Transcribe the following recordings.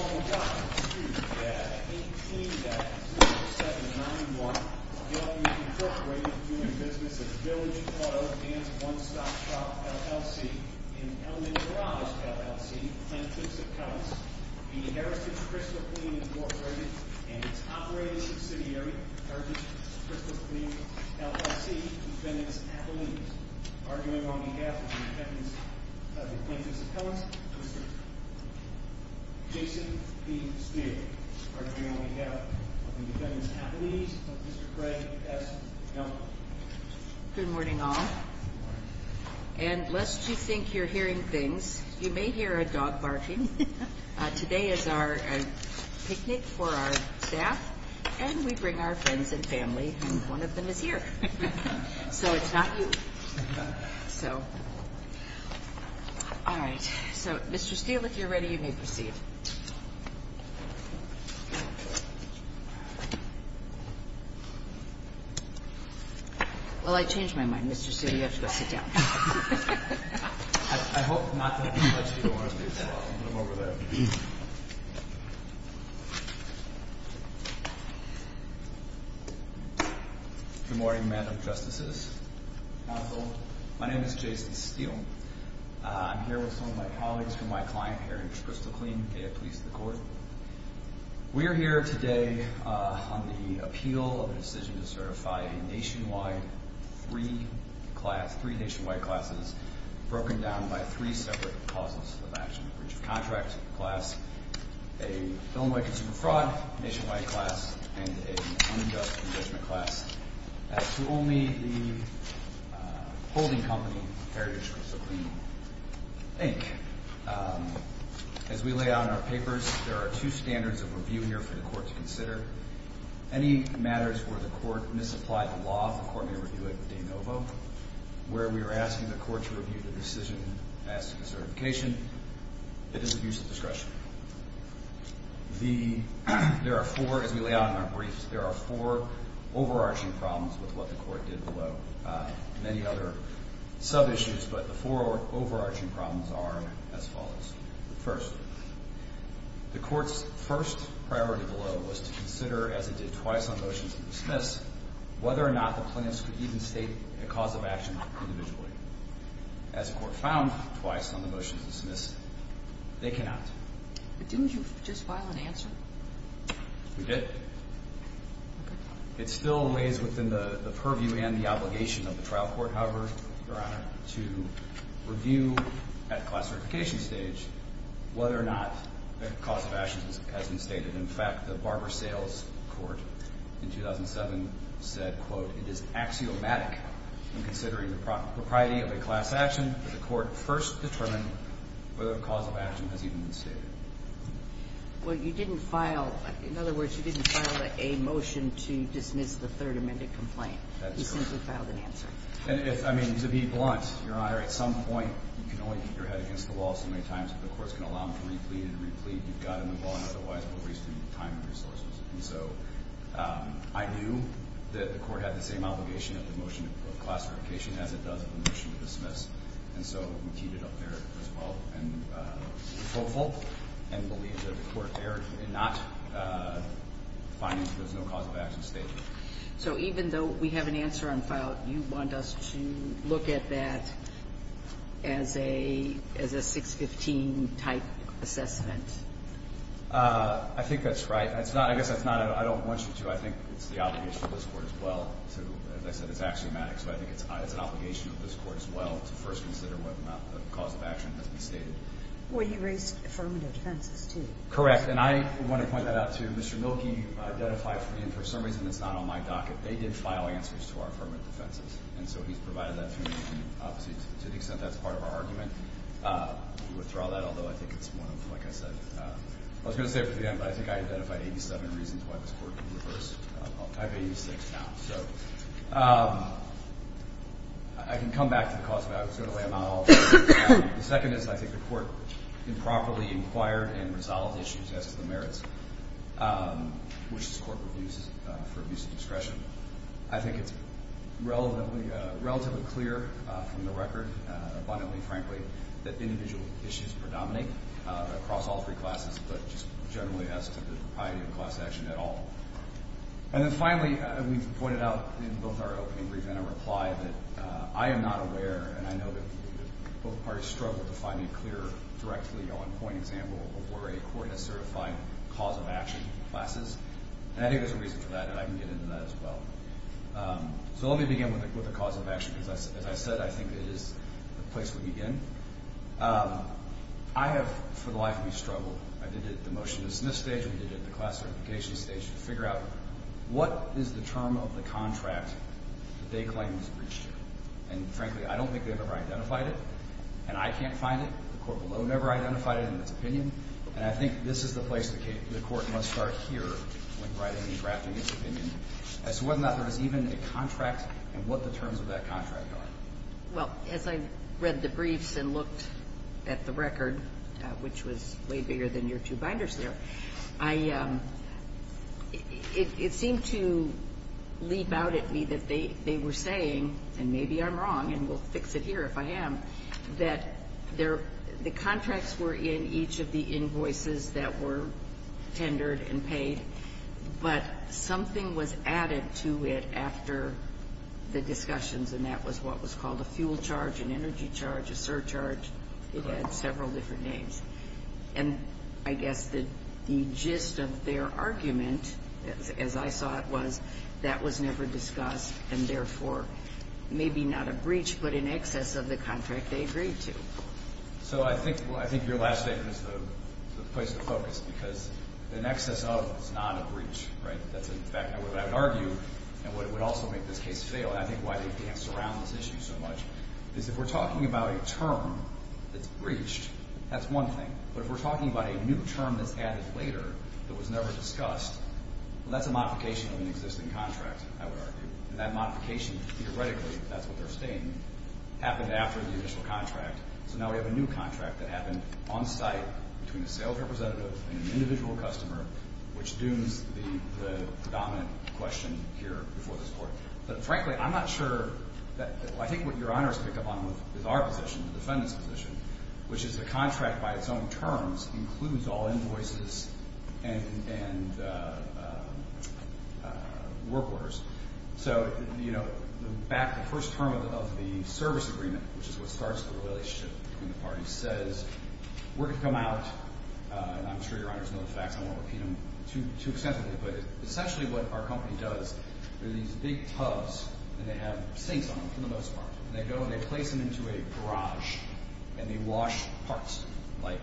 On October 2 at 18791, the L.U. Incorporated, doing business at Village Auto and One-Stop Shop, LLC, in Elmendorado, LLC, Plaintiff's Appellants, v. Heritage Crystal Clean, Inc., and its operating subsidiary, Heritage Crystal Clean, LLC, defendant's appellant, arguing on behalf of the plaintiff's appellants, Mr. Jason P. Steele, arguing on behalf of the defendant's appellants, Mr. Craig S. Young. Mr. Steele, if you're ready, you may proceed. Well, I changed my mind. Mr. Steele, you have to go sit down. I hope not that much, but I'll put him over there. Good morning, Madam Justices. My name is Jason Steele. I'm here with some of my colleagues from my client, Heritage Crystal Clean. May it please the Court. We are here today on the appeal of a decision to certify a nationwide free class, three nationwide classes, broken down by three separate clauses of action. A breach of contract class, a Illinois consumer fraud nationwide class, and an unjust judgment class to only the holding company, Heritage Crystal Clean, Inc. As we lay out in our papers, there are two standards of review here for the Court to consider. Any matters where the Court misapplied the law, the Court may review it de novo. Where we are asking the Court to review the decision asking for certification, it is abuse of discretion. There are four, as we lay out in our briefs, there are four overarching problems with what the Court did below. Many other sub-issues, but the four overarching problems are as follows. First, the Court's first priority below was to consider, as it did twice on motions of dismiss, whether or not the plaintiffs could even state a cause of action individually. As the Court found twice on the motions of dismiss, they cannot. But didn't you just file an answer? We did. It still weighs within the purview and the obligation of the trial court, however, Your Honor, to review at class certification stage whether or not a cause of action has been stated. In fact, the Barber Sales Court in 2007 said, quote, it is axiomatic in considering the propriety of a class action that the Court first determine whether a cause of action has even been stated. Well, you didn't file, in other words, you didn't file a motion to dismiss the third amended complaint. That's correct. You simply filed an answer. And if, I mean, to be blunt, Your Honor, at some point, you can only keep your head against the wall so many times that the courts can allow them to re-plead and re-plead. You've got to move on, otherwise we'll waste time and resources. And so I knew that the Court had the same obligation of the motion of class certification as it does of the motion of dismiss. And so we keep it up there as well. And we're hopeful and believe that the Court there did not find that there's no cause of action stated. So even though we have an answer on file, you want us to look at that as a 615-type assessment? I think that's right. I guess that's not, I don't want you to. I think it's the obligation of this Court as well to, as I said, it's axiomatic. So I think it's an obligation of this Court as well to first consider whether or not a cause of action has been stated. Well, you raised affirmative defenses, too. Correct. And I want to point that out, too. Mr. Mielke identified, and for some reason it's not on my docket, they did file answers to our affirmative defenses. And so he's provided that to me. And obviously, to the extent that's part of our argument, we withdraw that, although I think it's one of, like I said, I was going to say it at the end, but I think I identified 87 reasons why this Court can reverse. I have 86 now. So I can come back to the cause of action. I was going to lay them out all. The second is I think the Court improperly inquired and resolved issues as to the merits, which this Court reviews for abuse of discretion. I think it's relatively clear from the record, abundantly frankly, that individual issues predominate across all three classes, but just generally as to the piety of class action at all. And then finally, we've pointed out in both our opening brief and our reply that I am not aware, and I know that both parties struggle to find a clear, directly on point example of where a Court has certified cause of action in classes. And I think there's a reason for that, and I can get into that as well. So let me begin with the cause of action, because as I said, I think it is the place we begin. I have, for the life of me, struggled. I did it at the motion-to-smith stage. We did it at the class certification stage to figure out what is the term of the contract that they claim was breached. And frankly, I don't think they've ever identified it, and I can't find it. The Court below never identified it in its opinion. And I think this is the place the Court must start here when writing and drafting its opinion, as to whether or not there is even a contract and what the terms of that contract are. Well, as I read the briefs and looked at the record, which was way bigger than your two binders there, it seemed to leap out at me that they were saying, and maybe I'm wrong, and we'll fix it here if I am, that the contracts were in each of the invoices that were tendered and paid, but something was added to it after the discussions, and that was what was called a fuel charge, an energy charge, a surcharge. It had several different names. And I guess the gist of their argument, as I saw it, was that was never discussed and therefore maybe not a breach but an excess of the contract they agreed to. So I think your last statement is the place to focus, because an excess of is not a breach, right? That's, in fact, what I would argue and what would also make this case fail, and I think why they dance around this issue so much, is if we're talking about a term that's breached, that's one thing. But if we're talking about a new term that's added later that was never discussed, well, that's a modification of an existing contract, I would argue. And that modification, theoretically, if that's what they're stating, happened after the initial contract. So now we have a new contract that happened on site between a sales representative and an individual customer, which dooms the predominant question here before this court. But, frankly, I'm not sure that, well, I think what your honors pick up on is our position, the defendant's position, which is the contract by its own terms includes all invoices and work orders. So, you know, back to the first term of the service agreement, which is what starts the relationship between the parties, says we're going to come out, and I'm sure your honors know the facts, I won't repeat them too extensively, but essentially what our company does, there are these big tubs, and they have sinks on them for the most part, and they go and they place them into a garage, and they wash parts, like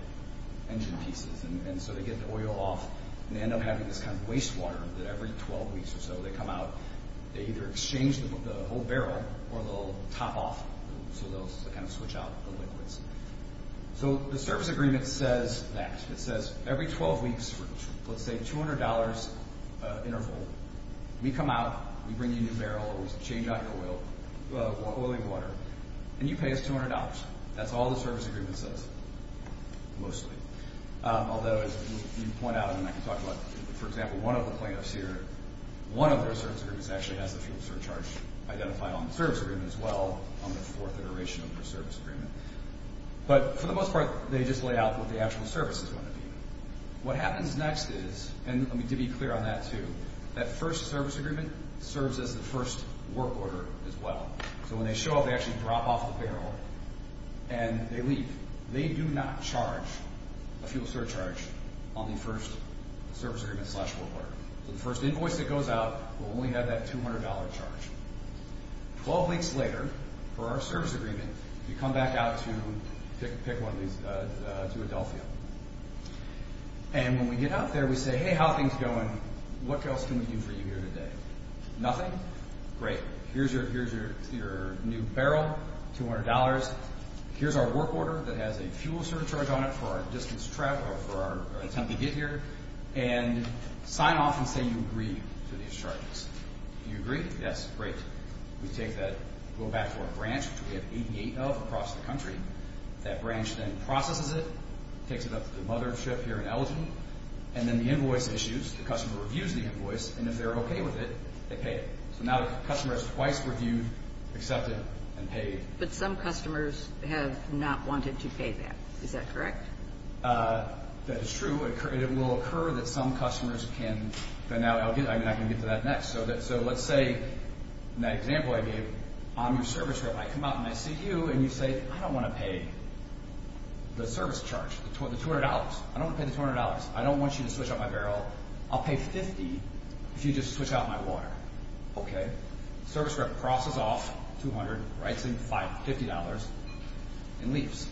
engine pieces, and so they get the oil off, and they end up having this kind of wastewater that every 12 weeks or so they come out, they either exchange the whole barrel, or they'll top off, so they'll kind of switch out the liquids. So the service agreement says that. It says every 12 weeks for, let's say, $200 interval, we come out, we bring you a new barrel, we change out your oil, or oil and water, and you pay us $200. That's all the service agreement says, mostly. Although, as you point out, and I can talk about, for example, one of the plaintiffs here, one of their service agreements actually has the fuel surcharge identified on the service agreement as well, on the fourth iteration of their service agreement. But for the most part, they just lay out what the actual service is going to be. What happens next is, and to be clear on that too, that first service agreement serves as the first work order as well. So when they show up, they actually drop off the barrel, and they leave. They do not charge a fuel surcharge on the first service agreement slash work order. So the first invoice that goes out will only have that $200 charge. Twelve weeks later, for our service agreement, you come back out to, pick one of these, to Adelphia. And when we get out there, we say, hey, how are things going? What else can we do for you here today? Nothing? Great. Here's your new barrel, $200. Here's our work order that has a fuel surcharge on it for our distance travel, for our attempt to get here. And sign off and say you agree to these charges. Do you agree? Yes. Great. We take that, go back to our branch, which we have 88 of across the country. That branch then processes it, takes it up to the mother ship here in Elgin. And then the invoice issues. The customer reviews the invoice. And if they're okay with it, they pay it. So now the customer has twice reviewed, accepted, and paid. But some customers have not wanted to pay that. Is that correct? That is true. It will occur that some customers can – I can get to that next. So let's say, in that example I gave, I'm your service rep. I come out and I see you and you say, I don't want to pay the service charge, the $200. I don't want to pay the $200. I don't want you to switch out my barrel. I'll pay $50 if you just switch out my water. Okay. Service rep crosses off $200, writes in $50, and leaves.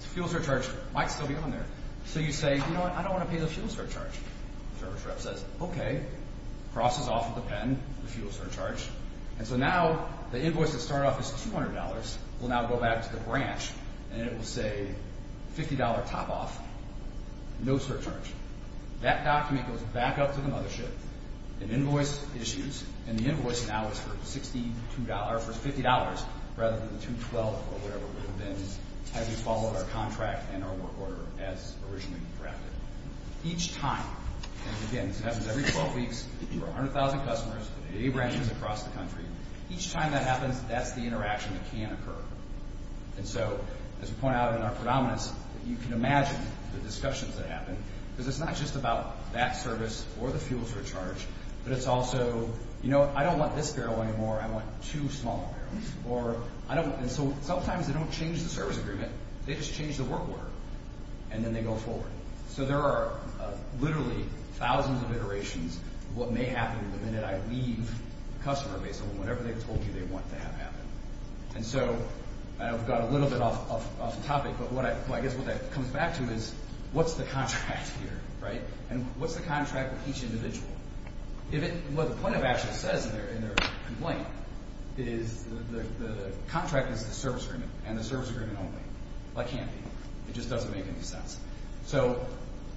The fuel surcharge might still be on there. So you say, you know what, I don't want to pay the fuel surcharge. Service rep says, okay, crosses off with a pen the fuel surcharge. And so now the invoice that started off as $200 will now go back to the branch. And it will say, $50 top off, no surcharge. That document goes back up to the mothership and invoice issues. And the invoice now is for $50 rather than the $212 or whatever it would have been had we followed our contract and our work order as originally drafted. Each time – and again, this happens every 12 weeks. We're 100,000 customers, 80 branches across the country. Each time that happens, that's the interaction that can occur. And so, as we point out in our predominance, you can imagine the discussions that happen. Because it's not just about that service or the fuel surcharge, but it's also, you know what, I don't want this barrel anymore. I want two smaller barrels. And so sometimes they don't change the service agreement. They just change the work order, and then they go forward. So there are literally thousands of iterations of what may happen the minute I leave the customer base or whatever they told you they want to have happen. And so I've got a little bit off the topic, but I guess what that comes back to is, what's the contract here, right? And what's the contract with each individual? What the plaintiff actually says in their complaint is, the contract is the service agreement and the service agreement only. That can't be. It just doesn't make any sense. So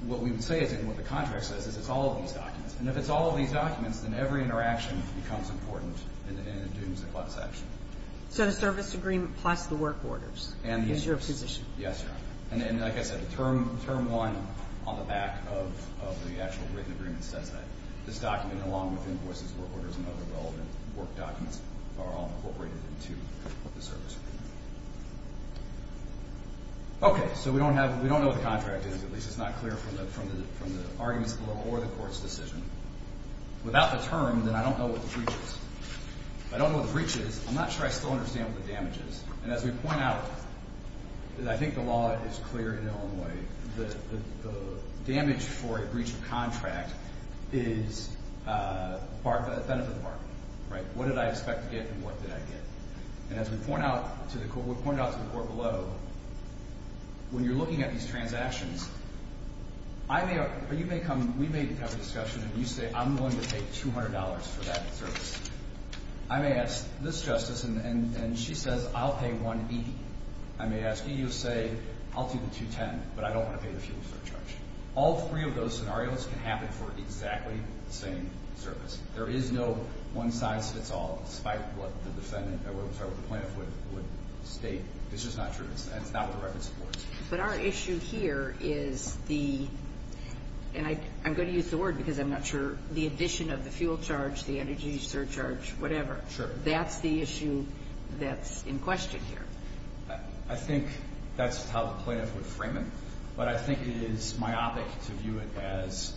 what we would say is, and what the contract says, is it's all of these documents. And if it's all of these documents, then every interaction becomes important and it dooms the class action. So the service agreement plus the work orders is your position. Yes, Your Honor. And like I said, the Term 1 on the back of the actual written agreement says that. This document, along with invoices, work orders, and other relevant work documents are all incorporated into the service agreement. Okay, so we don't know what the contract is. At least it's not clear from the arguments of the law or the court's decision. Without the term, then I don't know what the breach is. If I don't know what the breach is, I'm not sure I still understand what the damage is. And as we point out, and I think the law is clear in Illinois, the damage for a breach of contract is part of the benefit of the bargain, right? What did I expect to get and what did I get? And as we point out to the court below, when you're looking at these transactions, we may have a discussion and you say, I'm willing to pay $200 for that service. I may ask this justice, and she says, I'll pay 1E. I may ask E, you'll say, I'll do the 210, but I don't want to pay the fuel charge. All three of those scenarios can happen for exactly the same service. There is no one-size-fits-all, despite what the plaintiff would state. It's just not true, and it's not what the record supports. But our issue here is the, and I'm going to use the word because I'm not sure, the addition of the fuel charge, the energy surcharge, whatever. Sure. That's the issue that's in question here. I think that's how the plaintiff would frame it, but I think it is myopic to view it as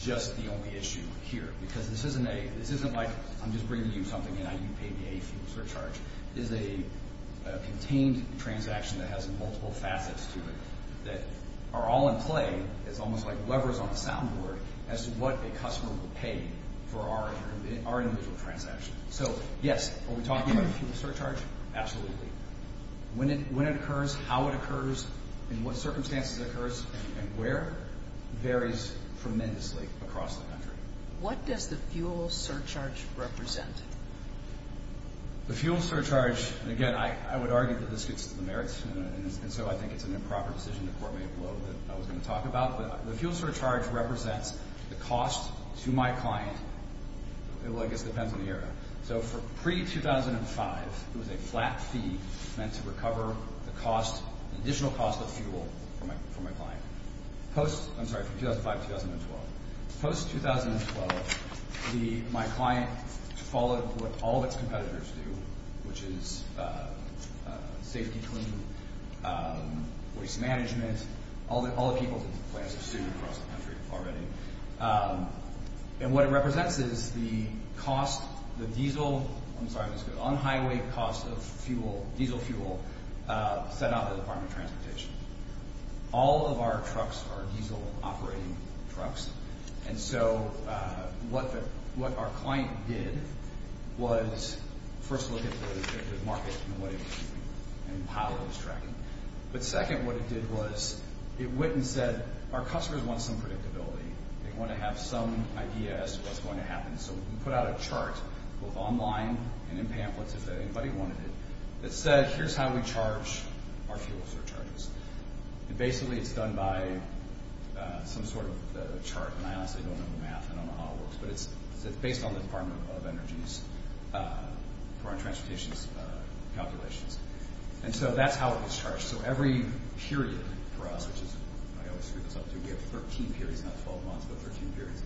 just the only issue here, because this isn't like I'm just bringing you something and you pay me a fuel surcharge. This is a contained transaction that has multiple facets to it that are all in play. It's almost like levers on a sound board as to what a customer will pay for our individual transaction. So, yes, are we talking about the fuel surcharge? Absolutely. When it occurs, how it occurs, in what circumstances it occurs, and where, varies tremendously across the country. What does the fuel surcharge represent? The fuel surcharge, and again, I would argue that this gets to the merits, and so I think it's an improper decision to court me a blow that I was going to talk about, but the fuel surcharge represents the cost to my client. Well, I guess it depends on the year. So for pre-2005, it was a flat fee meant to recover the cost, the additional cost of fuel for my client. Post, I'm sorry, 2005-2012. Post-2012, my client followed what all of its competitors do, which is safety cleaning, waste management. All the people in the class have sued across the country already. And what it represents is the cost, the diesel, I'm sorry, on-highway cost of diesel fuel set out by the Department of Transportation. All of our trucks are diesel-operating trucks, and so what our client did was first look at the market and how it was tracking. But second, what it did was it went and said, our customers want some predictability. They want to have some idea as to what's going to happen. So we put out a chart, both online and in pamphlets if anybody wanted it, that said, here's how we charge our fuels or charges. And basically it's done by some sort of chart, and I honestly don't know the math. I don't know how it works, but it's based on the Department of Energy's, for our transportation's calculations. And so that's how it was charged. So every period for us, which is, I always screw this up too, we have 13 periods, not 12 months, but 13 periods,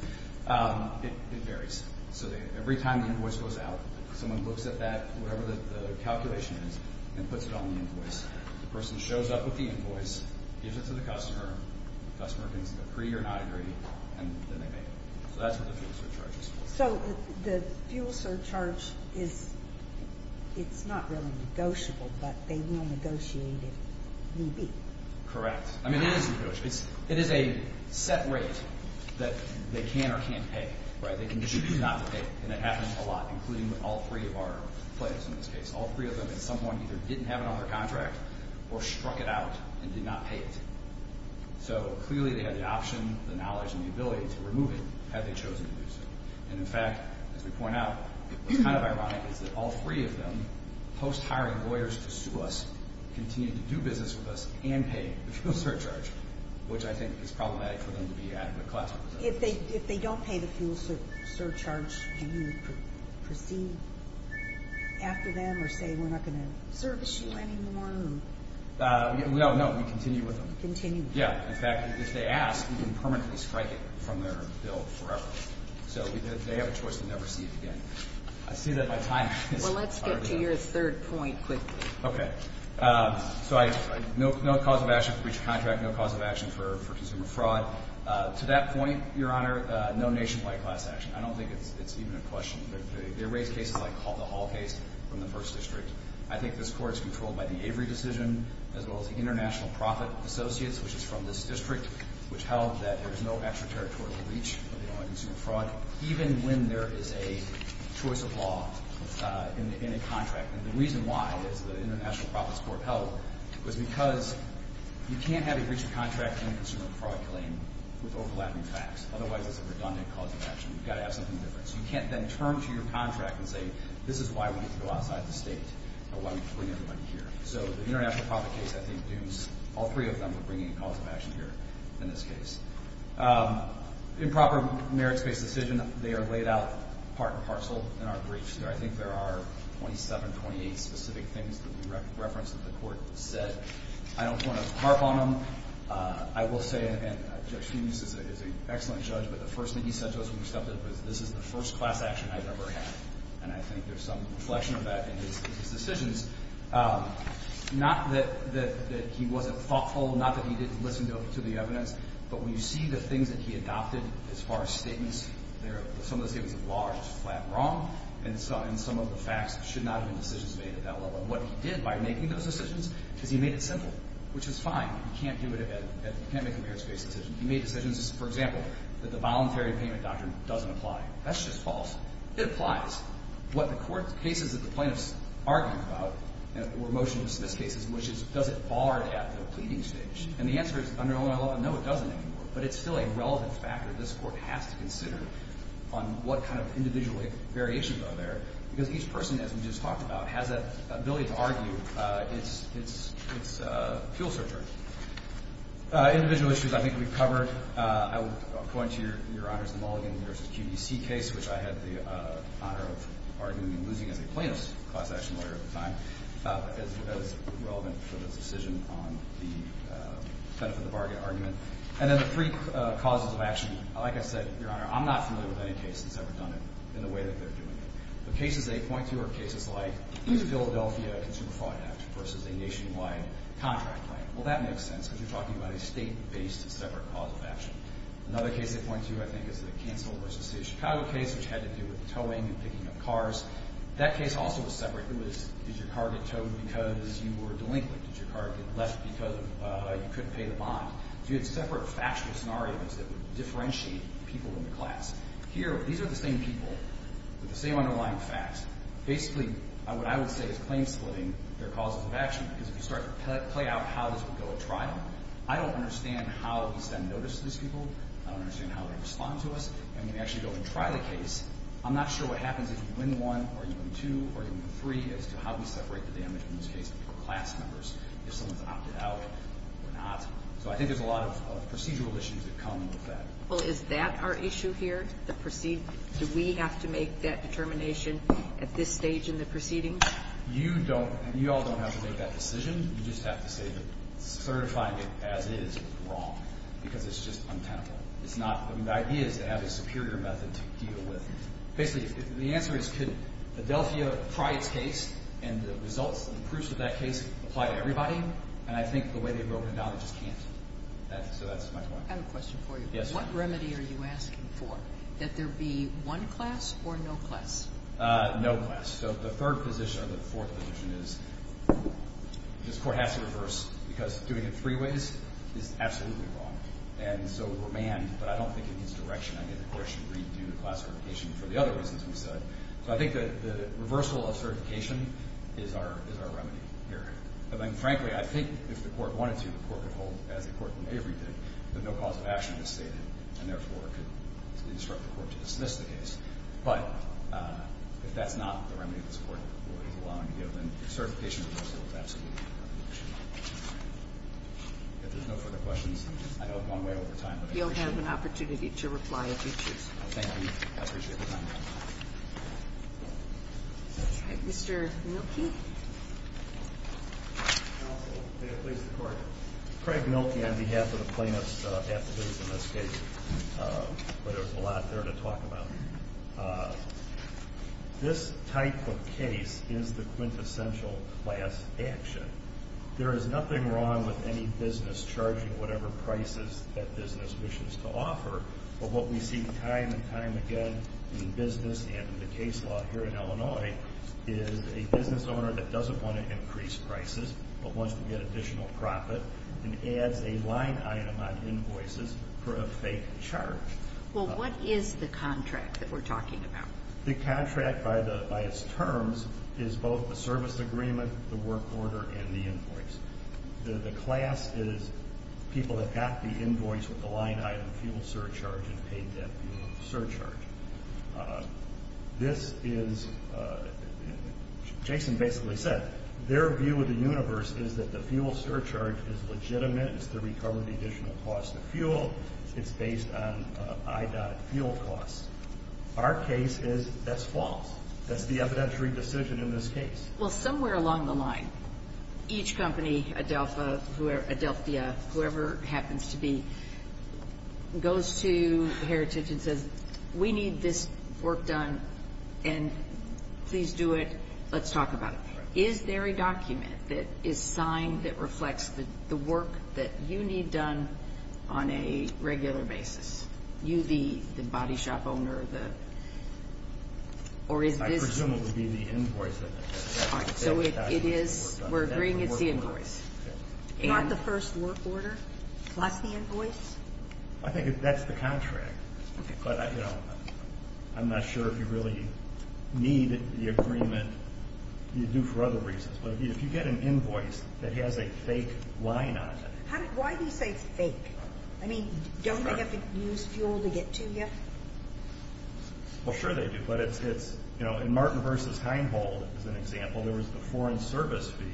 it varies. So every time the invoice goes out, someone looks at that, whatever the calculation is, and puts it on the invoice. The person shows up with the invoice, gives it to the customer, the customer can agree or not agree, and then they make it. So that's what the fuel surcharge is for. So the fuel surcharge is, it's not really negotiable, but they will negotiate it. Correct. I mean, it is negotiable. It is a set rate that they can or can't pay. They can choose not to pay, and that happens a lot, including all three of our players in this case. All three of them had someone either didn't have it on their contract or struck it out and did not pay it. So clearly they had the option, the knowledge, and the ability to remove it had they chosen to do so. And, in fact, as we point out, it was kind of ironic that all three of them, post-hiring lawyers to sue us, continue to do business with us and pay the fuel surcharge, which I think is problematic for them to be adequate class representatives. If they don't pay the fuel surcharge, can you proceed after them or say we're not going to service you anymore? No, no, we continue with them. You continue. Yeah. In fact, if they ask, we can permanently strike it from their bill forever. So they have a choice to never see it again. I see that my time is up. Well, let's get to your third point quickly. Okay. So no cause of action for breach of contract, no cause of action for consumer fraud. To that point, Your Honor, no nationwide class action. I don't think it's even a question. They raise cases like the Hall case from the First District. I think this Court is controlled by the Avery decision as well as the International Profit Associates, which is from this district, which held that there is no extraterritorial breach of consumer fraud even when there is a choice of law in a contract. And the reason why, as the International Profits Court held, was because you can't have a breach of contract and a consumer fraud claim with overlapping facts. Otherwise, it's a redundant cause of action. You've got to have something different. So you can't then turn to your contract and say, this is why we need to go outside the state or why we need to bring everybody here. So the International Profit case, I think, dooms all three of them with bringing a cause of action here in this case. Improper merits-based decision, they are laid out part and parcel in our briefs. I think there are 27, 28 specific things that we referenced that the Court said. I don't want to harp on them. I will say, and Judge Finius is an excellent judge, but the first thing he said to us when we stepped in was, this is the first class action I've ever had. And I think there's some reflection of that in his decisions. Not that he wasn't thoughtful, not that he didn't listen to the evidence, but when you see the things that he adopted as far as statements, some of the statements of law are just flat wrong. And some of the facts should not have been decisions made at that level. And what he did by making those decisions is he made it simple, which is fine. You can't do it, you can't make a merits-based decision. He made decisions, for example, that the voluntary payment doctrine doesn't apply. That's just false. It applies. What the Court's cases that the plaintiffs argued about were motion dismiss cases, which is, does it barred at the pleading stage? And the answer is, under Illinois law, no, it doesn't anymore. But it's still a relevant factor. This Court has to consider on what kind of individual variations are there, because each person, as we just talked about, has that ability to argue. It's a fuel searcher. Individual issues I think we've covered. I will point to Your Honor's Mulligan v. QDC case, which I had the honor of arguing and losing as a plaintiff's class action lawyer at the time. That is relevant for this decision on the benefit-of-the-bargain argument. And then the three causes of action, like I said, Your Honor, I'm not familiar with any case that's ever done it in the way that they're doing it. The cases they point to are cases like the Philadelphia Consumer Fraud Act versus a nationwide contract plan. Well, that makes sense, because you're talking about a State-based separate cause of action. Another case they point to, I think, is the Cancel v. State of Chicago case, which had to do with towing and picking up cars. That case also was separate. It was, did your car get towed because you were delinquent? Did your car get left because you couldn't pay the bond? So you had separate factual scenarios that would differentiate people in the class. Here, these are the same people with the same underlying facts. Basically, what I would say is claim-splitting their causes of action, because if you start to play out how this would go at trial, I don't understand how we send notice to these people. I don't understand how they respond to us. And when we actually go and try the case, I'm not sure what happens if you win one or you win two or you win three as to how we separate the damage in this case if someone's opted out or not. So I think there's a lot of procedural issues that come with that. Well, is that our issue here? Do we have to make that determination at this stage in the proceedings? You don't. You all don't have to make that decision. You just have to say that certifying it as is is wrong, because it's just untenable. The idea is to have a superior method to deal with. Basically, the answer is could Adelphia try its case, and the results and proofs of that case apply to everybody, and I think the way they've broken it down, they just can't. So that's my point. I have a question for you. What remedy are you asking for? That there be one class or no class? No class. So the third position or the fourth position is this court has to reverse, because doing it three ways is absolutely wrong. And so we're manned, but I don't think it needs direction. I think the court should redo the class certification for the other reasons we said. So I think the reversal of certification is our remedy here. And then, frankly, I think if the court wanted to, the court could hold, as the court in Avery did, that no cause of action is stated, and therefore could instruct the court to dismiss the case. But if that's not the remedy this Court is allowing to deal with, then certification reversal is absolutely the remedy. If there's no further questions, I know we've gone way over time. You'll have an opportunity to reply if you choose. Thank you. I appreciate the time. All right. Mr. Mielke. Counsel, may it please the Court. Craig Mielke on behalf of the plaintiffs' affidavits in this case, where there's a lot there to talk about. This type of case is the quintessential class action. But what we see time and time again in business and in the case law here in Illinois is a business owner that doesn't want to increase prices, but wants to get additional profit, and adds a line item on invoices for a fake charge. Well, what is the contract that we're talking about? The contract, by its terms, is both the service agreement, the work order, and the invoice. The class is people that got the invoice with the line item fuel surcharge and paid that fuel surcharge. This is, Jason basically said, their view of the universe is that the fuel surcharge is legitimate. It's the recovery of the additional cost of fuel. It's based on i.fuel costs. Our case is that's false. That's the evidentiary decision in this case. Well, somewhere along the line, each company, Adelphia, whoever it happens to be, goes to Heritage and says, We need this work done, and please do it. Let's talk about it. Is there a document that is signed that reflects the work that you need done on a regular basis? You, the body shop owner, or is this? It would presumably be the invoice. So we're agreeing it's the invoice. Not the first work order plus the invoice? I think that's the contract. But I'm not sure if you really need the agreement. You do for other reasons. But if you get an invoice that has a fake line on it. Why do you say fake? I mean, don't they have to use fuel to get to you? Well, sure they do. In Martin v. Heinhold, as an example, there was the foreign service fee,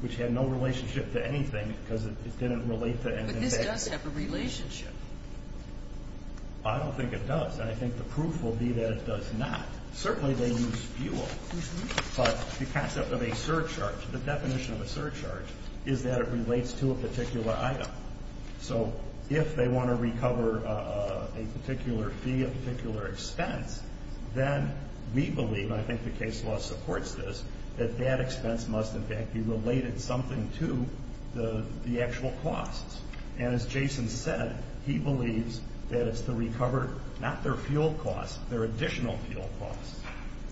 which had no relationship to anything because it didn't relate to anything. But this does have a relationship. I don't think it does. And I think the proof will be that it does not. Certainly they use fuel. But the concept of a surcharge, the definition of a surcharge, is that it relates to a particular item. So if they want to recover a particular fee, a particular expense, then we believe, and I think the case law supports this, that that expense must, in fact, be related something to the actual costs. And as Jason said, he believes that it's to recover not their fuel costs, their additional fuel costs.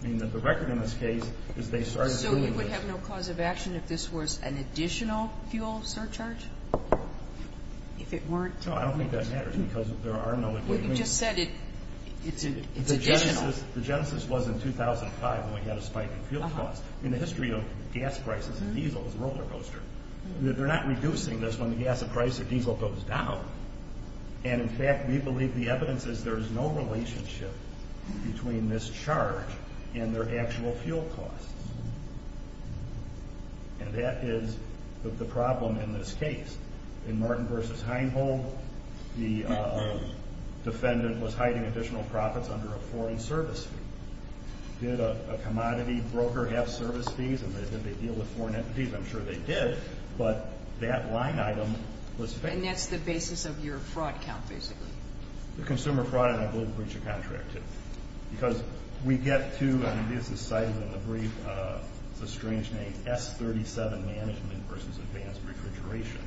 Meaning that the record in this case is they started doing this. Would it have no cause of action if this was an additional fuel surcharge? If it weren't? No, I don't think that matters because there are no equations. But you just said it's additional. The genesis was in 2005 when we had a spike in fuel costs. In the history of gas prices, diesel is a roller coaster. They're not reducing this when the gas price of diesel goes down. And, in fact, we believe the evidence is there is no relationship between this charge and their actual fuel costs. And that is the problem in this case. In Martin v. Heinhold, the defendant was hiding additional profits under a foreign service fee. Did a commodity broker have service fees? And did they deal with foreign entities? I'm sure they did, but that line item was fake. And that's the basis of your fraud count, basically. The consumer fraud, and I believe breach of contract, too. Because we get to, and this is cited in the brief, it's a strange name, S-37 Management v. Advanced Refrigeration.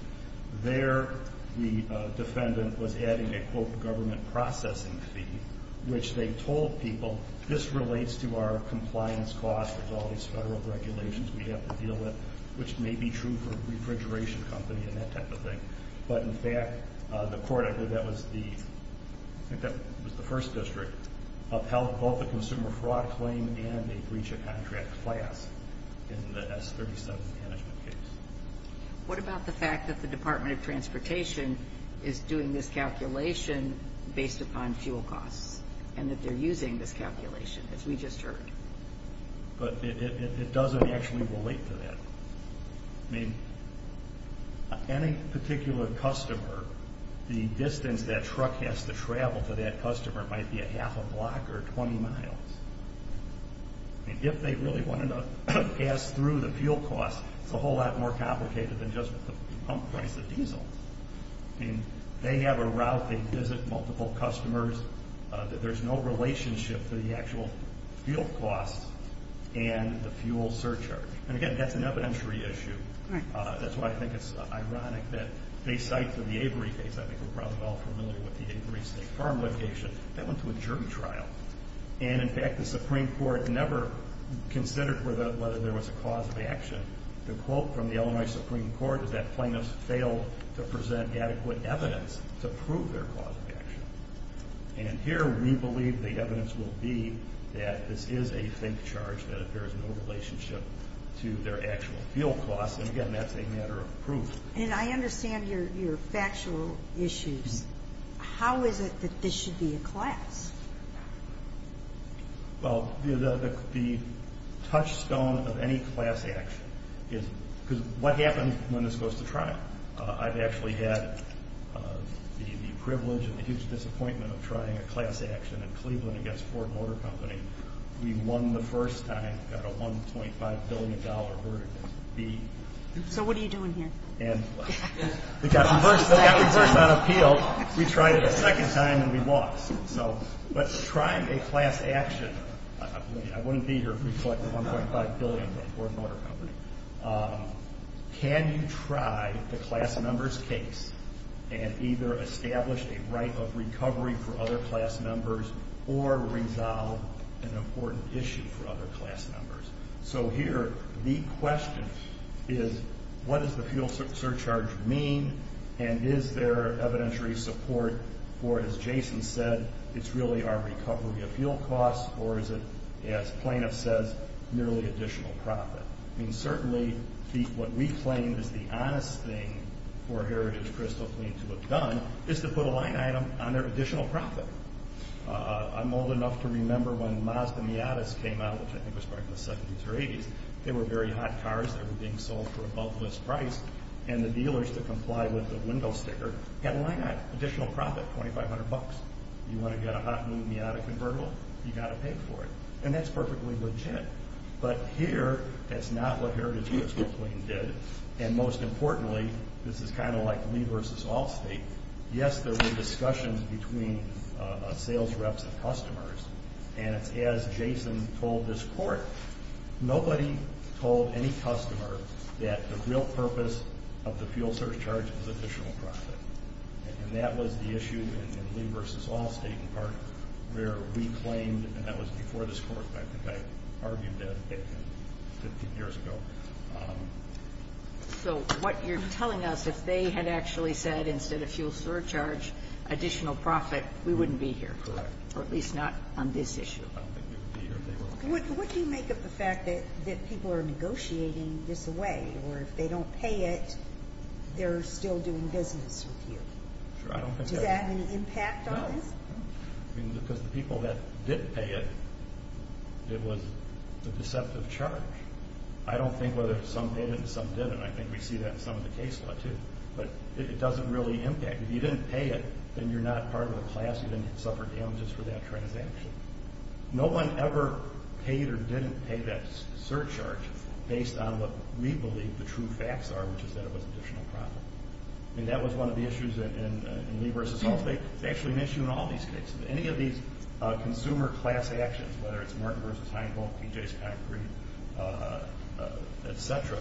There the defendant was adding a, quote, government processing fee, which they told people this relates to our compliance costs with all these federal regulations we have to deal with, which may be true for a refrigeration company and that type of thing. But, in fact, the court, I believe that was the first district, upheld both the consumer fraud claim and the breach of contract class in the S-37 Management case. What about the fact that the Department of Transportation is doing this calculation based upon fuel costs and that they're using this calculation, as we just heard? But it doesn't actually relate to that. I mean, any particular customer, the distance that truck has to travel to that customer might be a half a block or 20 miles. I mean, if they really wanted to pass through the fuel costs, it's a whole lot more complicated than just the pump price of diesel. I mean, they have a route, they visit multiple customers. There's no relationship to the actual fuel costs and the fuel surcharge. And, again, that's an evidentiary issue. That's why I think it's ironic that, based on the Avery case, I think we're probably all familiar with the Avery State Farm location. That went to a jury trial. And, in fact, the Supreme Court never considered whether there was a cause of action. The quote from the Illinois Supreme Court is that plaintiffs failed to present adequate evidence to prove their cause of action. And here we believe the evidence will be that this is a bank charge that bears no relationship to their actual fuel costs. And, again, that's a matter of proof. And I understand your factual issues. How is it that this should be a class? Well, the touchstone of any class action is what happens when it goes to trial. I've actually had the privilege and the huge disappointment of trying a class action in Cleveland against Ford Motor Company. We won the first time, got a $1.5 billion verdict. So what are you doing here? They got reversed on appeal. We tried it a second time and we lost. So let's try a class action. I wouldn't be here if we collected $1.5 billion from Ford Motor Company. Can you try the class members case and either establish a right of recovery for other class members or resolve an important issue for other class members? So here the question is what does the fuel surcharge mean and is there evidentiary support for, as Jason said, it's really our recovery of fuel costs or is it, as plaintiff says, merely additional profit? I mean, certainly what we claim is the honest thing for Heritage Crystal Clean to have done is to put a line item on their additional profit. I'm old enough to remember when Mazda Miatas came out, which I think was probably the 70s or 80s. They were very hot cars that were being sold for above list price and the dealers that complied with the window sticker got a line item, additional profit, $2,500. You want to get a hot new Miata convertible? You got to pay for it. And that's perfectly legit. But here that's not what Heritage Crystal Clean did and most importantly, this is kind of like Lee versus Allstate, yes, there were discussions between sales reps and customers and it's as Jason told this court, nobody told any customer that the real purpose of the fuel surcharge was additional profit. And that was the issue in Lee versus Allstate, in part, where we claimed, and that was before this court, I think I argued that 15 years ago. So what you're telling us, if they had actually said instead of fuel surcharge, additional profit, we wouldn't be here. Correct. Or at least not on this issue. I don't think we would be here if they were. What do you make of the fact that people are negotiating this away or if they don't pay it, they're still doing business with you? Sure. Does that have any impact on this? No. Because the people that did pay it, it was a deceptive charge. I don't think whether some paid it and some didn't. I think we see that in some of the case law, too. But it doesn't really impact. If you didn't pay it, then you're not part of the class. You didn't suffer damages for that transaction. No one ever paid or didn't pay that surcharge based on what we believe the true facts are, which is that it was additional profit. And that was one of the issues in Lee versus Allstate. It's actually an issue in all these cases. Any of these consumer class actions, whether it's Martin versus Heinvolk, P.J.'s Concrete, et cetera,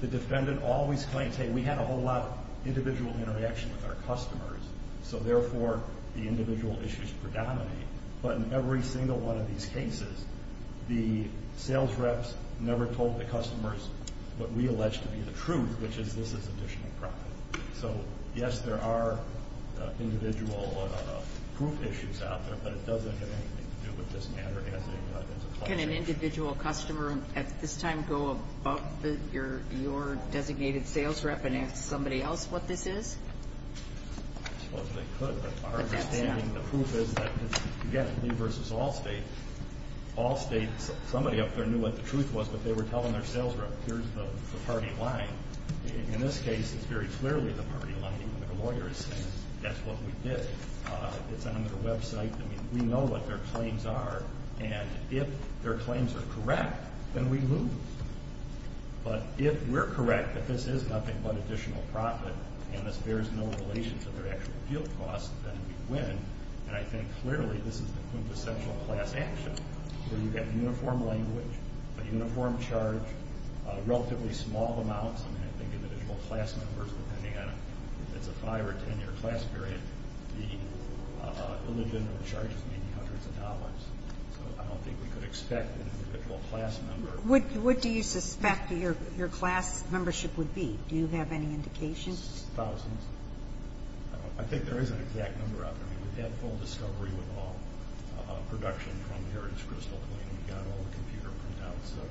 the defendant always claims, hey, we had a whole lot of individual interaction with our customers, so therefore the individual issues predominate. But in every single one of these cases, the sales reps never told the customers what we allege to be the truth, which is this is additional profit. So, yes, there are individual proof issues out there, but it doesn't have anything to do with this matter as a cluster. Can an individual customer at this time go above your designated sales rep and ask somebody else what this is? I suppose they could. But our understanding, the proof is that, again, Lee versus Allstate, Allstate, somebody up there knew what the truth was, but they were telling their sales rep, here's the party line. In this case, it's very clearly the party line. Even their lawyer is saying that's what we did. It's on their website. I mean, we know what their claims are. And if their claims are correct, then we lose. But if we're correct that this is nothing but additional profit and this bears no relation to their actual field costs, then we win. And I think clearly this is the quintessential class action, where you get uniform language, a uniform charge, relatively small amounts. I mean, I think individual class numbers, depending on if it's a five- What do you suspect your class membership would be? Do you have any indication? Thousands. I think there is an exact number out there. We've had full discovery with all production from Heritage Crystal. We've got all the computer printouts. And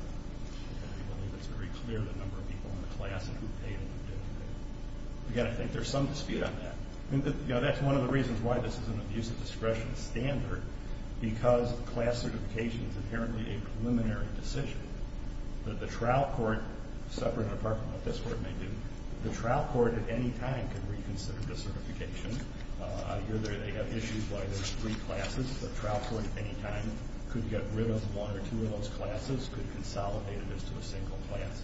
we believe it's very clear the number of people in the class and who paid and who didn't pay. Again, I think there's some dispute on that. That's one of the reasons why this is an abuse of discretion standard, because class certification is apparently a preliminary decision. The trial court, separate and apart from what this court may do, the trial court at any time can reconsider the certification. I hear they have issues why there's three classes. The trial court at any time could get rid of one or two of those classes, could consolidate this to a single class.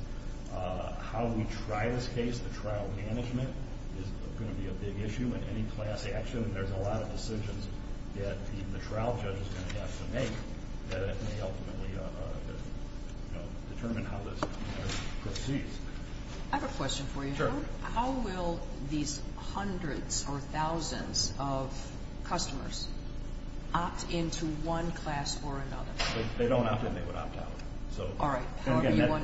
How we try this case, the trial management, is going to be a big issue in any class action. There's a lot of decisions that even the trial judge is going to have to make that may ultimately determine how this proceeds. I have a question for you. Sure. How will these hundreds or thousands of customers opt into one class or another? They don't opt in. They would opt out. All right. On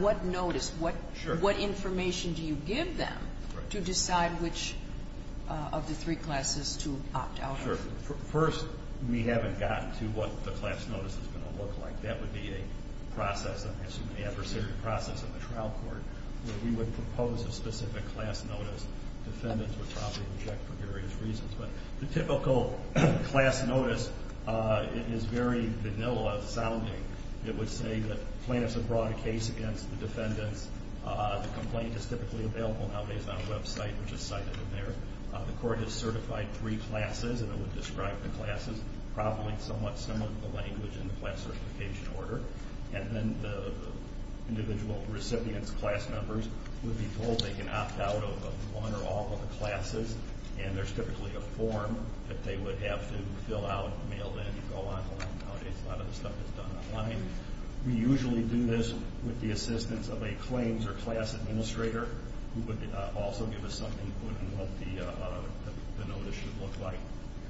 what notice, what information do you give them to decide which of the three classes to opt out of? First, we haven't gotten to what the class notice is going to look like. That would be a process, an adversarial process in the trial court where we would propose a specific class notice. Defendants would probably reject for various reasons. The typical class notice is very vanilla sounding. It would say that plaintiffs have brought a case against the defendants. The complaint is typically available nowadays on a website, which is cited in there. The court has certified three classes, and it would describe the classes probably somewhat similar to the language in the class certification order. And then the individual recipient's class numbers would be pulled. They can opt out of one or all of the classes, and there's typically a form that they would have to fill out, mail in, and go online. Nowadays, a lot of the stuff is done online. We usually do this with the assistance of a claims or class administrator who would also give us some input on what the notice should look like.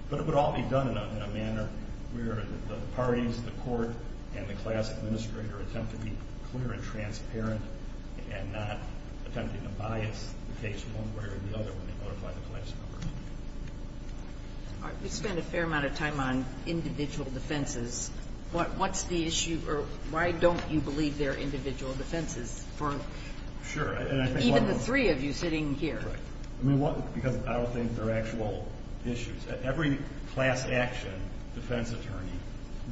But it would all be done in a manner where the parties, the court, and the class administrator attempt to be clear and transparent and not attempting to bias the case one way or the other when they notify the class numbers. All right. We spent a fair amount of time on individual defenses. What's the issue, or why don't you believe there are individual defenses for even the three of you sitting here? Right. I mean, because I don't think there are actual issues. Every class action defense attorney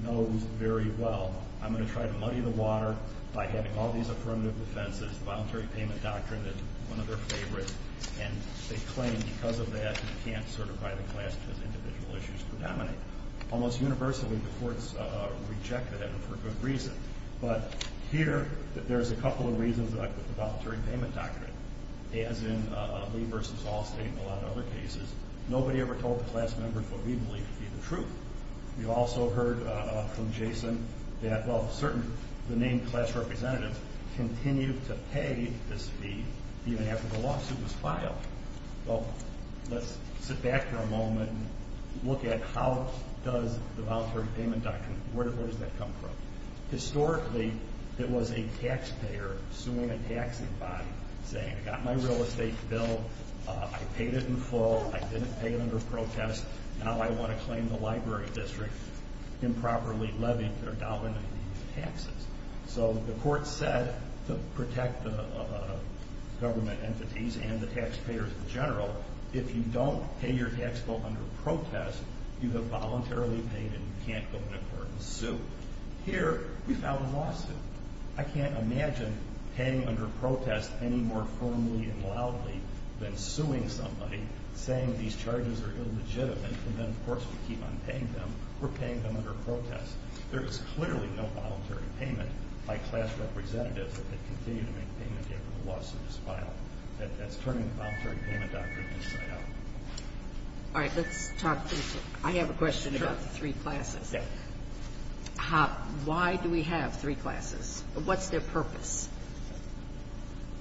knows very well, I'm going to try to muddy the water by having all these affirmative defenses. The Voluntary Payment Doctrine is one of their favorites, and they claim because of that you can't certify the class because individual issues predominate. Almost universally, the courts reject that for good reason. But here, there's a couple of reasons, like with the Voluntary Payment Doctrine. As in Lee v. Hall State and a lot of other cases, nobody ever told the class members what we believe to be the truth. We also heard from Jason that, well, certainly the named class representatives continue to pay this fee even after the lawsuit was filed. Well, let's sit back here a moment and look at how does the Voluntary Payment Doctrine, where does that come from? Historically, it was a taxpayer suing a taxing body saying, I got my real estate bill, I paid it in full, I didn't pay it under protest, now I want to claim the library district improperly levied or dominated these taxes. So the court said to protect the government entities and the taxpayers in general, if you don't pay your tax bill under protest, you have voluntarily paid and you can't go to court and sue. Here, we found a lawsuit. I can't imagine paying under protest any more firmly and loudly than suing somebody, saying these charges are illegitimate, and then, of course, we keep on paying them. We're paying them under protest. There is clearly no voluntary payment by class representatives that continue to make payment after the lawsuit is filed. That's turning the Voluntary Payment Doctrine inside out. All right, let's talk. I have a question about the three classes. Why do we have three classes? What's their purpose?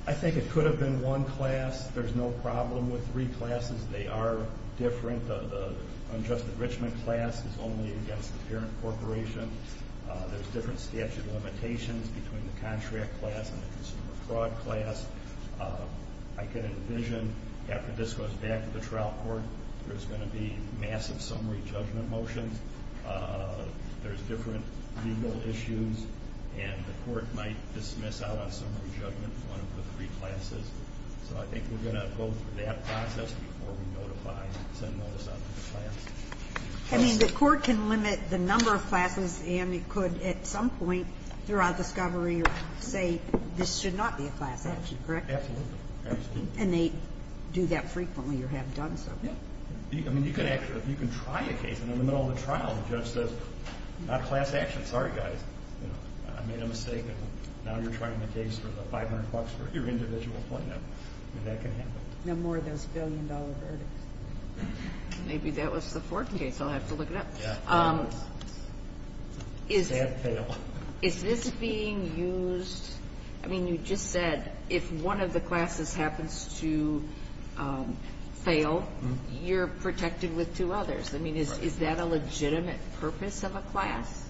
I think it could have been one class. There's no problem with three classes. They are different. The unjust enrichment class is only against the parent corporation. There's different statute limitations between the contract class and the consumer fraud class. I can envision, after this goes back to the trial court, there's going to be massive summary judgment motions. There's different legal issues, and the court might dismiss out on summary judgment in one of the three classes. So I think we're going to go through that process before we notify and send those out to the class. I mean, the court can limit the number of classes, and it could, at some point throughout discovery, say, this should not be a class action, correct? Absolutely. And they do that frequently or have done so. Yeah. I mean, you can try a case, and in the middle of the trial, the judge says, not class action, sorry, guys. I made a mistake. Now you're trying a case for the 500 bucks for your individual plaintiff. That can happen. No more of those billion-dollar verdicts. Maybe that was the fourth case. I'll have to look it up. Yeah. Is this being used? I mean, you just said if one of the classes happens to fail, you're protected with two others. I mean, is that a legitimate purpose of a class?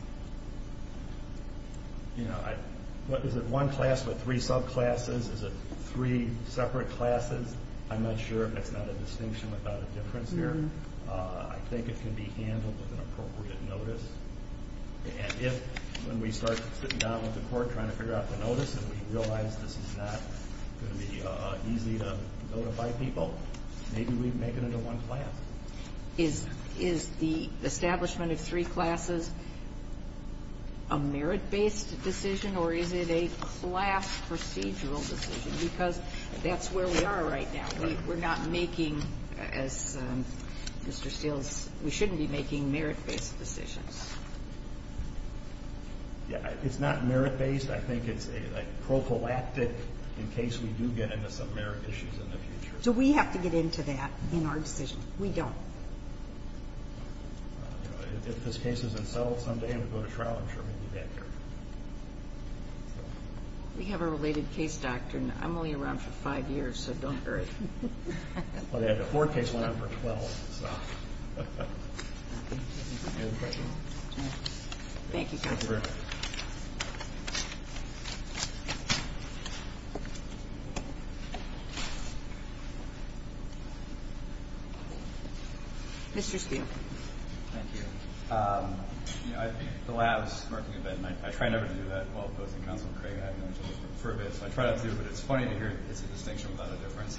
You know, is it one class with three subclasses? Is it three separate classes? I'm not sure. That's not a distinction without a difference there. I think it can be handled with an appropriate notice. And if, when we start sitting down with the court trying to figure out the notice, and we realize this is not going to be easy to notify people, maybe we make it into one class. Is the establishment of three classes a merit-based decision, or is it a class procedural decision? Because that's where we are right now. We're not making, as Mr. Steele's, we shouldn't be making merit-based decisions. Yeah, it's not merit-based. I think it's a prophylactic in case we do get into some merit issues in the future. So we have to get into that in our decision. We don't. If this case isn't settled someday and we go to trial, I'm sure we'll do that here. We have a related case doctrine. I'm only around for five years, so don't worry. The fourth case went on for 12. Any other questions? Thank you, Counselor. Mr. Steele. Thank you. The labs, I try never to do that while opposing Counselor Craig for a bit. So I try not to, but it's funny to hear it's a distinction without a difference.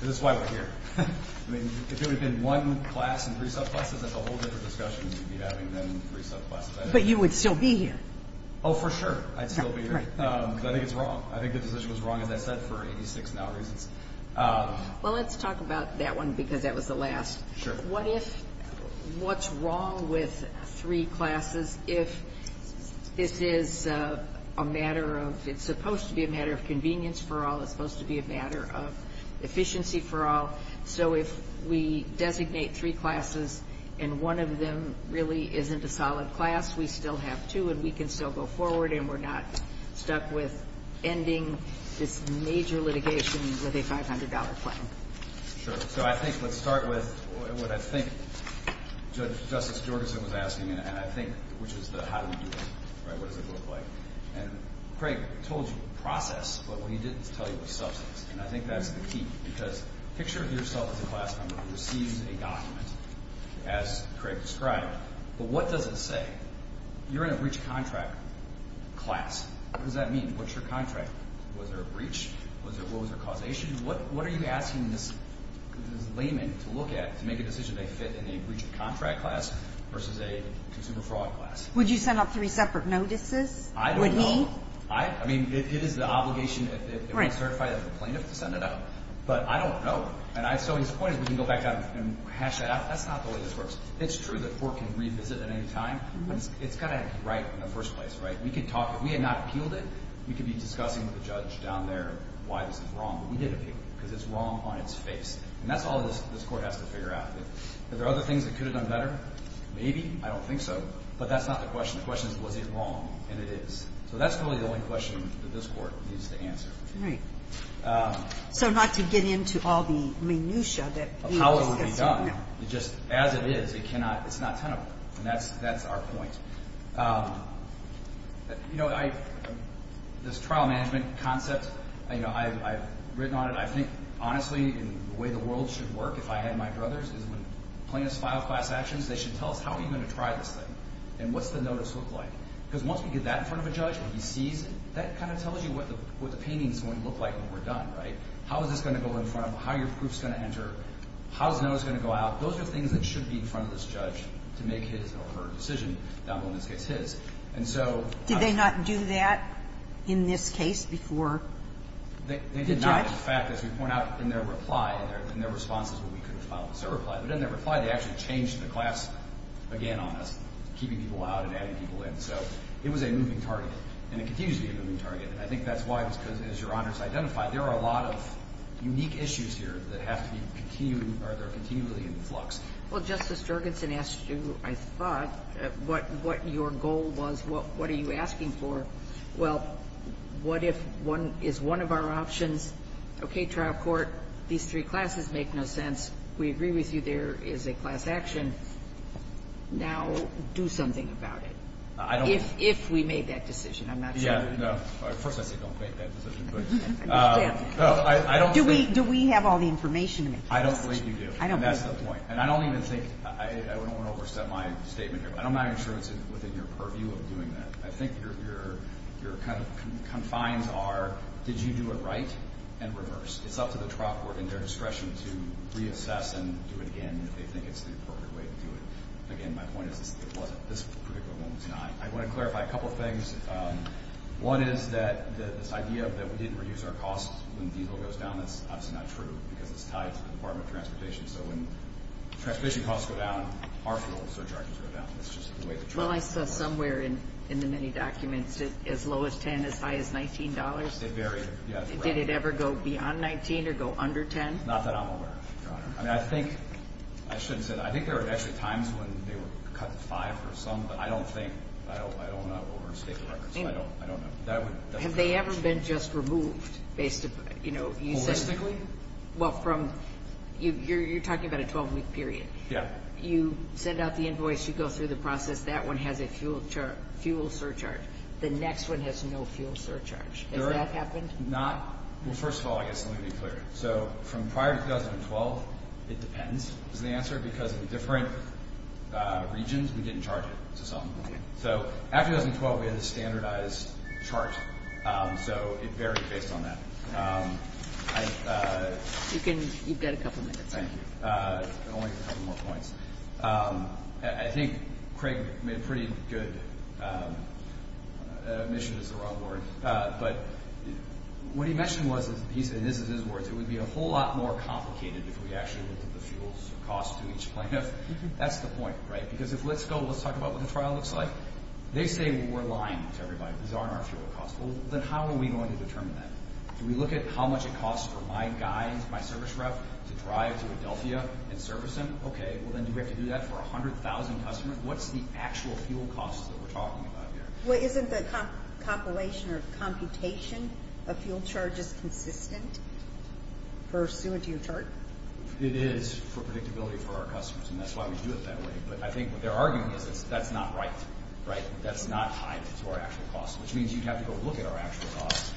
Because that's why we're here. I mean, if it had been one class and three subclasses, that's a whole different discussion than having them in three subclasses. But you would still be here. Oh, for sure, I'd still be here. But I think it's wrong. I think the decision was wrong, as I said, for 86 now reasons. Well, let's talk about that one because that was the last. Sure. What if what's wrong with three classes if this is a matter of, it's supposed to be a matter of convenience for all, it's supposed to be a matter of efficiency for all. So if we designate three classes and one of them really isn't a solid class, we still have two and we can still go forward and we're not stuck with ending this major litigation with a $500 plan. Sure. So I think let's start with what I think Justice Jorgenson was asking, and I think which is the how do we do it, right, what does it look like. And Craig told you process, but what he didn't tell you was substance. And I think that's the key because picture yourself as a class member who receives a document as Craig described, but what does it say? You're in a breach of contract class. What does that mean? What's your contract? Was there a breach? What was their causation? What are you asking this layman to look at to make a decision they fit in a breach of contract class versus a consumer fraud class? Would you send out three separate notices? I don't know. Would he? I mean, it is the obligation if it was certified as a plaintiff to send it out, but I don't know. And so his point is we can go back down and hash that out. That's not the way this works. It's true that court can revisit at any time, but it's got to be right in the first place, right? We can talk. If we had not appealed it, we could be discussing with the judge down there why this is wrong, but we didn't appeal it because it's wrong on its face. And that's all this court has to figure out. Are there other things that could have done better? Maybe. I don't think so. But that's not the question. The question is, was it wrong? And it is. So that's really the only question that this court needs to answer. All right. So not to get into all the minutia that we were discussing. Apollo would be done. Just as it is, it's not tenable, and that's our point. You know, this trial management concept, you know, I've written on it. I think, honestly, the way the world should work, if I had my brothers, is when plaintiffs file class actions, they should tell us how are you going to try this thing and what's the notice look like? Because once we get that in front of a judge, when he sees it, that kind of tells you what the painting is going to look like when we're done, right? How is this going to go in front of him? How are your proofs going to enter? How is the notice going to go out? Those are things that should be in front of this judge to make his or her decision, down below in this case, his. And so how does that work? Did they not do that in this case before the judge? They did not. In fact, as we point out in their reply, in their responses when we could have filed they actually changed the class again on us, keeping people out and adding people in. So it was a moving target, and it continues to be a moving target. And I think that's why it was because, as Your Honors identified, there are a lot of unique issues here that have to be continued, or they're continually in flux. Well, Justice Jurgensen asked you, I thought, what your goal was, what are you asking for. Well, what if one is one of our options? Okay, trial court, these three classes make no sense. We agree with you there is a class action. Now do something about it. If we made that decision, I'm not sure. Yeah, no. First I say don't make that decision. Do we have all the information? I don't believe you do. And that's the point. And I don't even think, I don't want to overstep my statement here, but I'm not even sure it's within your purview of doing that. I think your kind of confines are did you do it right and reverse. It's up to the trial court and their discretion to reassess and do it again if they think it's the appropriate way to do it. Again, my point is it wasn't this particular moment tonight. I want to clarify a couple of things. One is that this idea that we didn't reduce our costs when diesel goes down, that's obviously not true because it's tied to the Department of Transportation. So when transportation costs go down, our fuel surcharges go down. That's just the way the trial court works. Well, I saw somewhere in the many documents as low as $10, as high as $19. They vary. Did it ever go beyond $19 or go under $10? Not that I'm aware of, Your Honor. I mean, I think, I shouldn't say that. I think there were actually times when they were cut five or something. I don't think. I don't want to overstate the records. I don't know. Have they ever been just removed? Holistically? Well, you're talking about a 12-week period. Yeah. You send out the invoice. You go through the process. That one has a fuel surcharge. The next one has no fuel surcharge. Has that happened? Not. Well, first of all, I guess, let me be clear. So from prior to 2012, it depends, is the answer. Because in different regions, we didn't charge it to someone. So after 2012, we had a standardized chart. So it varied based on that. You've got a couple minutes. Thank you. I only have a couple more points. I think Craig made a pretty good admission is the wrong word. But what he mentioned was, and this is his words, it would be a whole lot more complicated if we actually looked at the fuels and costs to each plaintiff. That's the point, right? Because if let's go, let's talk about what the trial looks like. They say we're lying to everybody. These aren't our fuel costs. Well, then how are we going to determine that? Do we look at how much it costs for my guy, my service rep, to drive to Adelphia and service him? Okay, well, then do we have to do that for 100,000 customers? What's the actual fuel costs that we're talking about here? Well, isn't the compilation or computation of fuel charges consistent pursuant to your chart? It is for predictability for our customers, and that's why we do it that way. But I think what they're arguing is that's not right, right? That's not tied to our actual costs, which means you'd have to go look at our actual costs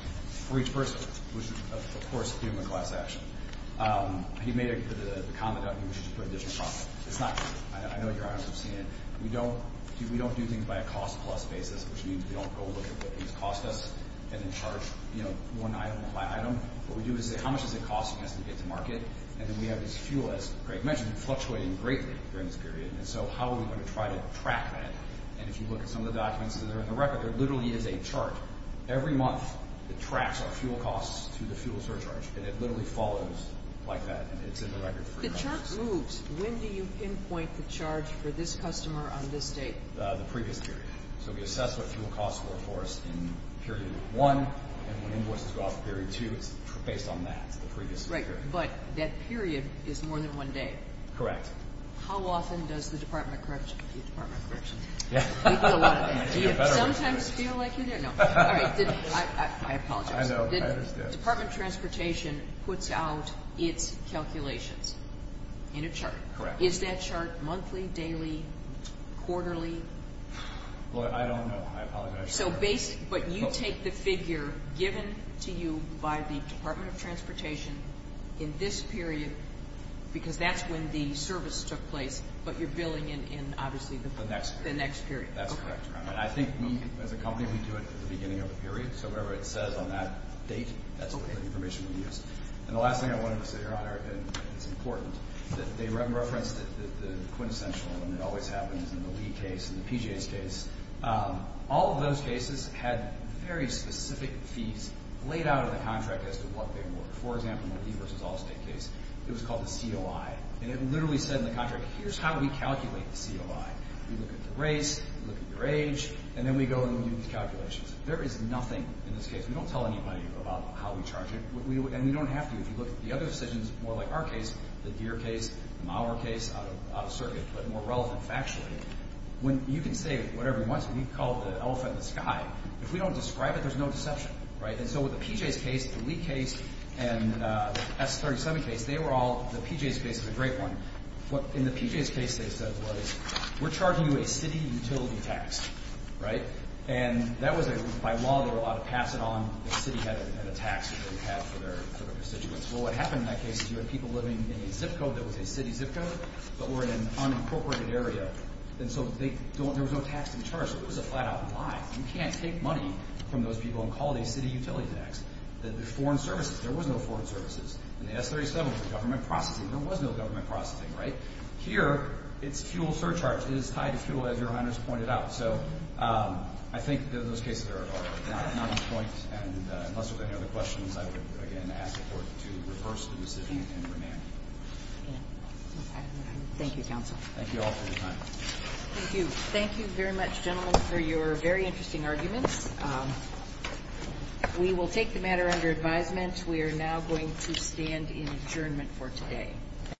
for each person, which, of course, would be in the class action. You made the comment that we should put additional costs. It's not true. I know your honors have seen it. We don't do things by a cost-plus basis, which means we don't go look at what these cost us and then charge one item by item. What we do is say how much does it cost us to get to market, and then we have this fuel, as Greg mentioned, fluctuating greatly during this period, and so how are we going to try to track that? And if you look at some of the documents that are in the record, there literally is a chart every month that tracks our fuel costs to the fuel surcharge, and it literally follows like that, and it's in the record. The chart moves. When do you pinpoint the charge for this customer on this date? The previous period. So we assess what fuel costs were for us in period one, and when invoices go out for period two, it's based on that. It's the previous period. Right, but that period is more than one day. Correct. How often does the Department of Corrections do better? Do you sometimes feel like you're there? No. I apologize. I know. I understand. The Department of Transportation puts out its calculations in a chart. Correct. Is that chart monthly, daily, quarterly? Well, I don't know. I apologize. But you take the figure given to you by the Department of Transportation in this period because that's when the service took place, but you're billing in, obviously, the next period. That's correct. And I think we, as a company, we do it at the beginning of a period, so whatever it says on that date, that's the information we use. And the last thing I wanted to say here, and it's important, that they referenced the quintessential, and it always happens in the LEED case and the PGA's case. All of those cases had very specific fees laid out in the contract as to what they were. For example, in the LEED versus Allstate case, it was called the COI, and it literally said in the contract, here's how we calculate the COI. We look at the race, we look at your age, and then we go and we do these calculations. There is nothing in this case. We don't tell anybody about how we charge it, and we don't have to. If you look at the other decisions, more like our case, the Deere case, the Maurer case, out of circuit, but more relevant factually, you can say whatever you want to. We call it the elephant in the sky. If we don't describe it, there's no deception. And so with the PGA's case, the LEED case, and the S-37 case, the PGA's case is a great one. In the PGA's case, they said, we're charging you a city utility tax. And that was, by law, they were allowed to pass it on. The city had a tax that they would have for their constituents. Well, what happened in that case is you had people living in a zip code that was a city zip code, but were in an unincorporated area. And so there was no tax to be charged. So it was a flat-out lie. You can't take money from those people and call it a city utility tax. There's foreign services. There was no foreign services. And the S-37 was a government processing. There was no government processing. Here, it's fuel surcharge. It is tied to fuel, as your Honor has pointed out. So I think that in those cases, there are not enough points. And unless there are any other questions, I would, again, ask the Court to reverse the decision and remand. Thank you, Counsel. Thank you all for your time. Thank you. Thank you very much, gentlemen, for your very interesting arguments. We will take the matter under advisement. We are now going to stand in adjournment for today.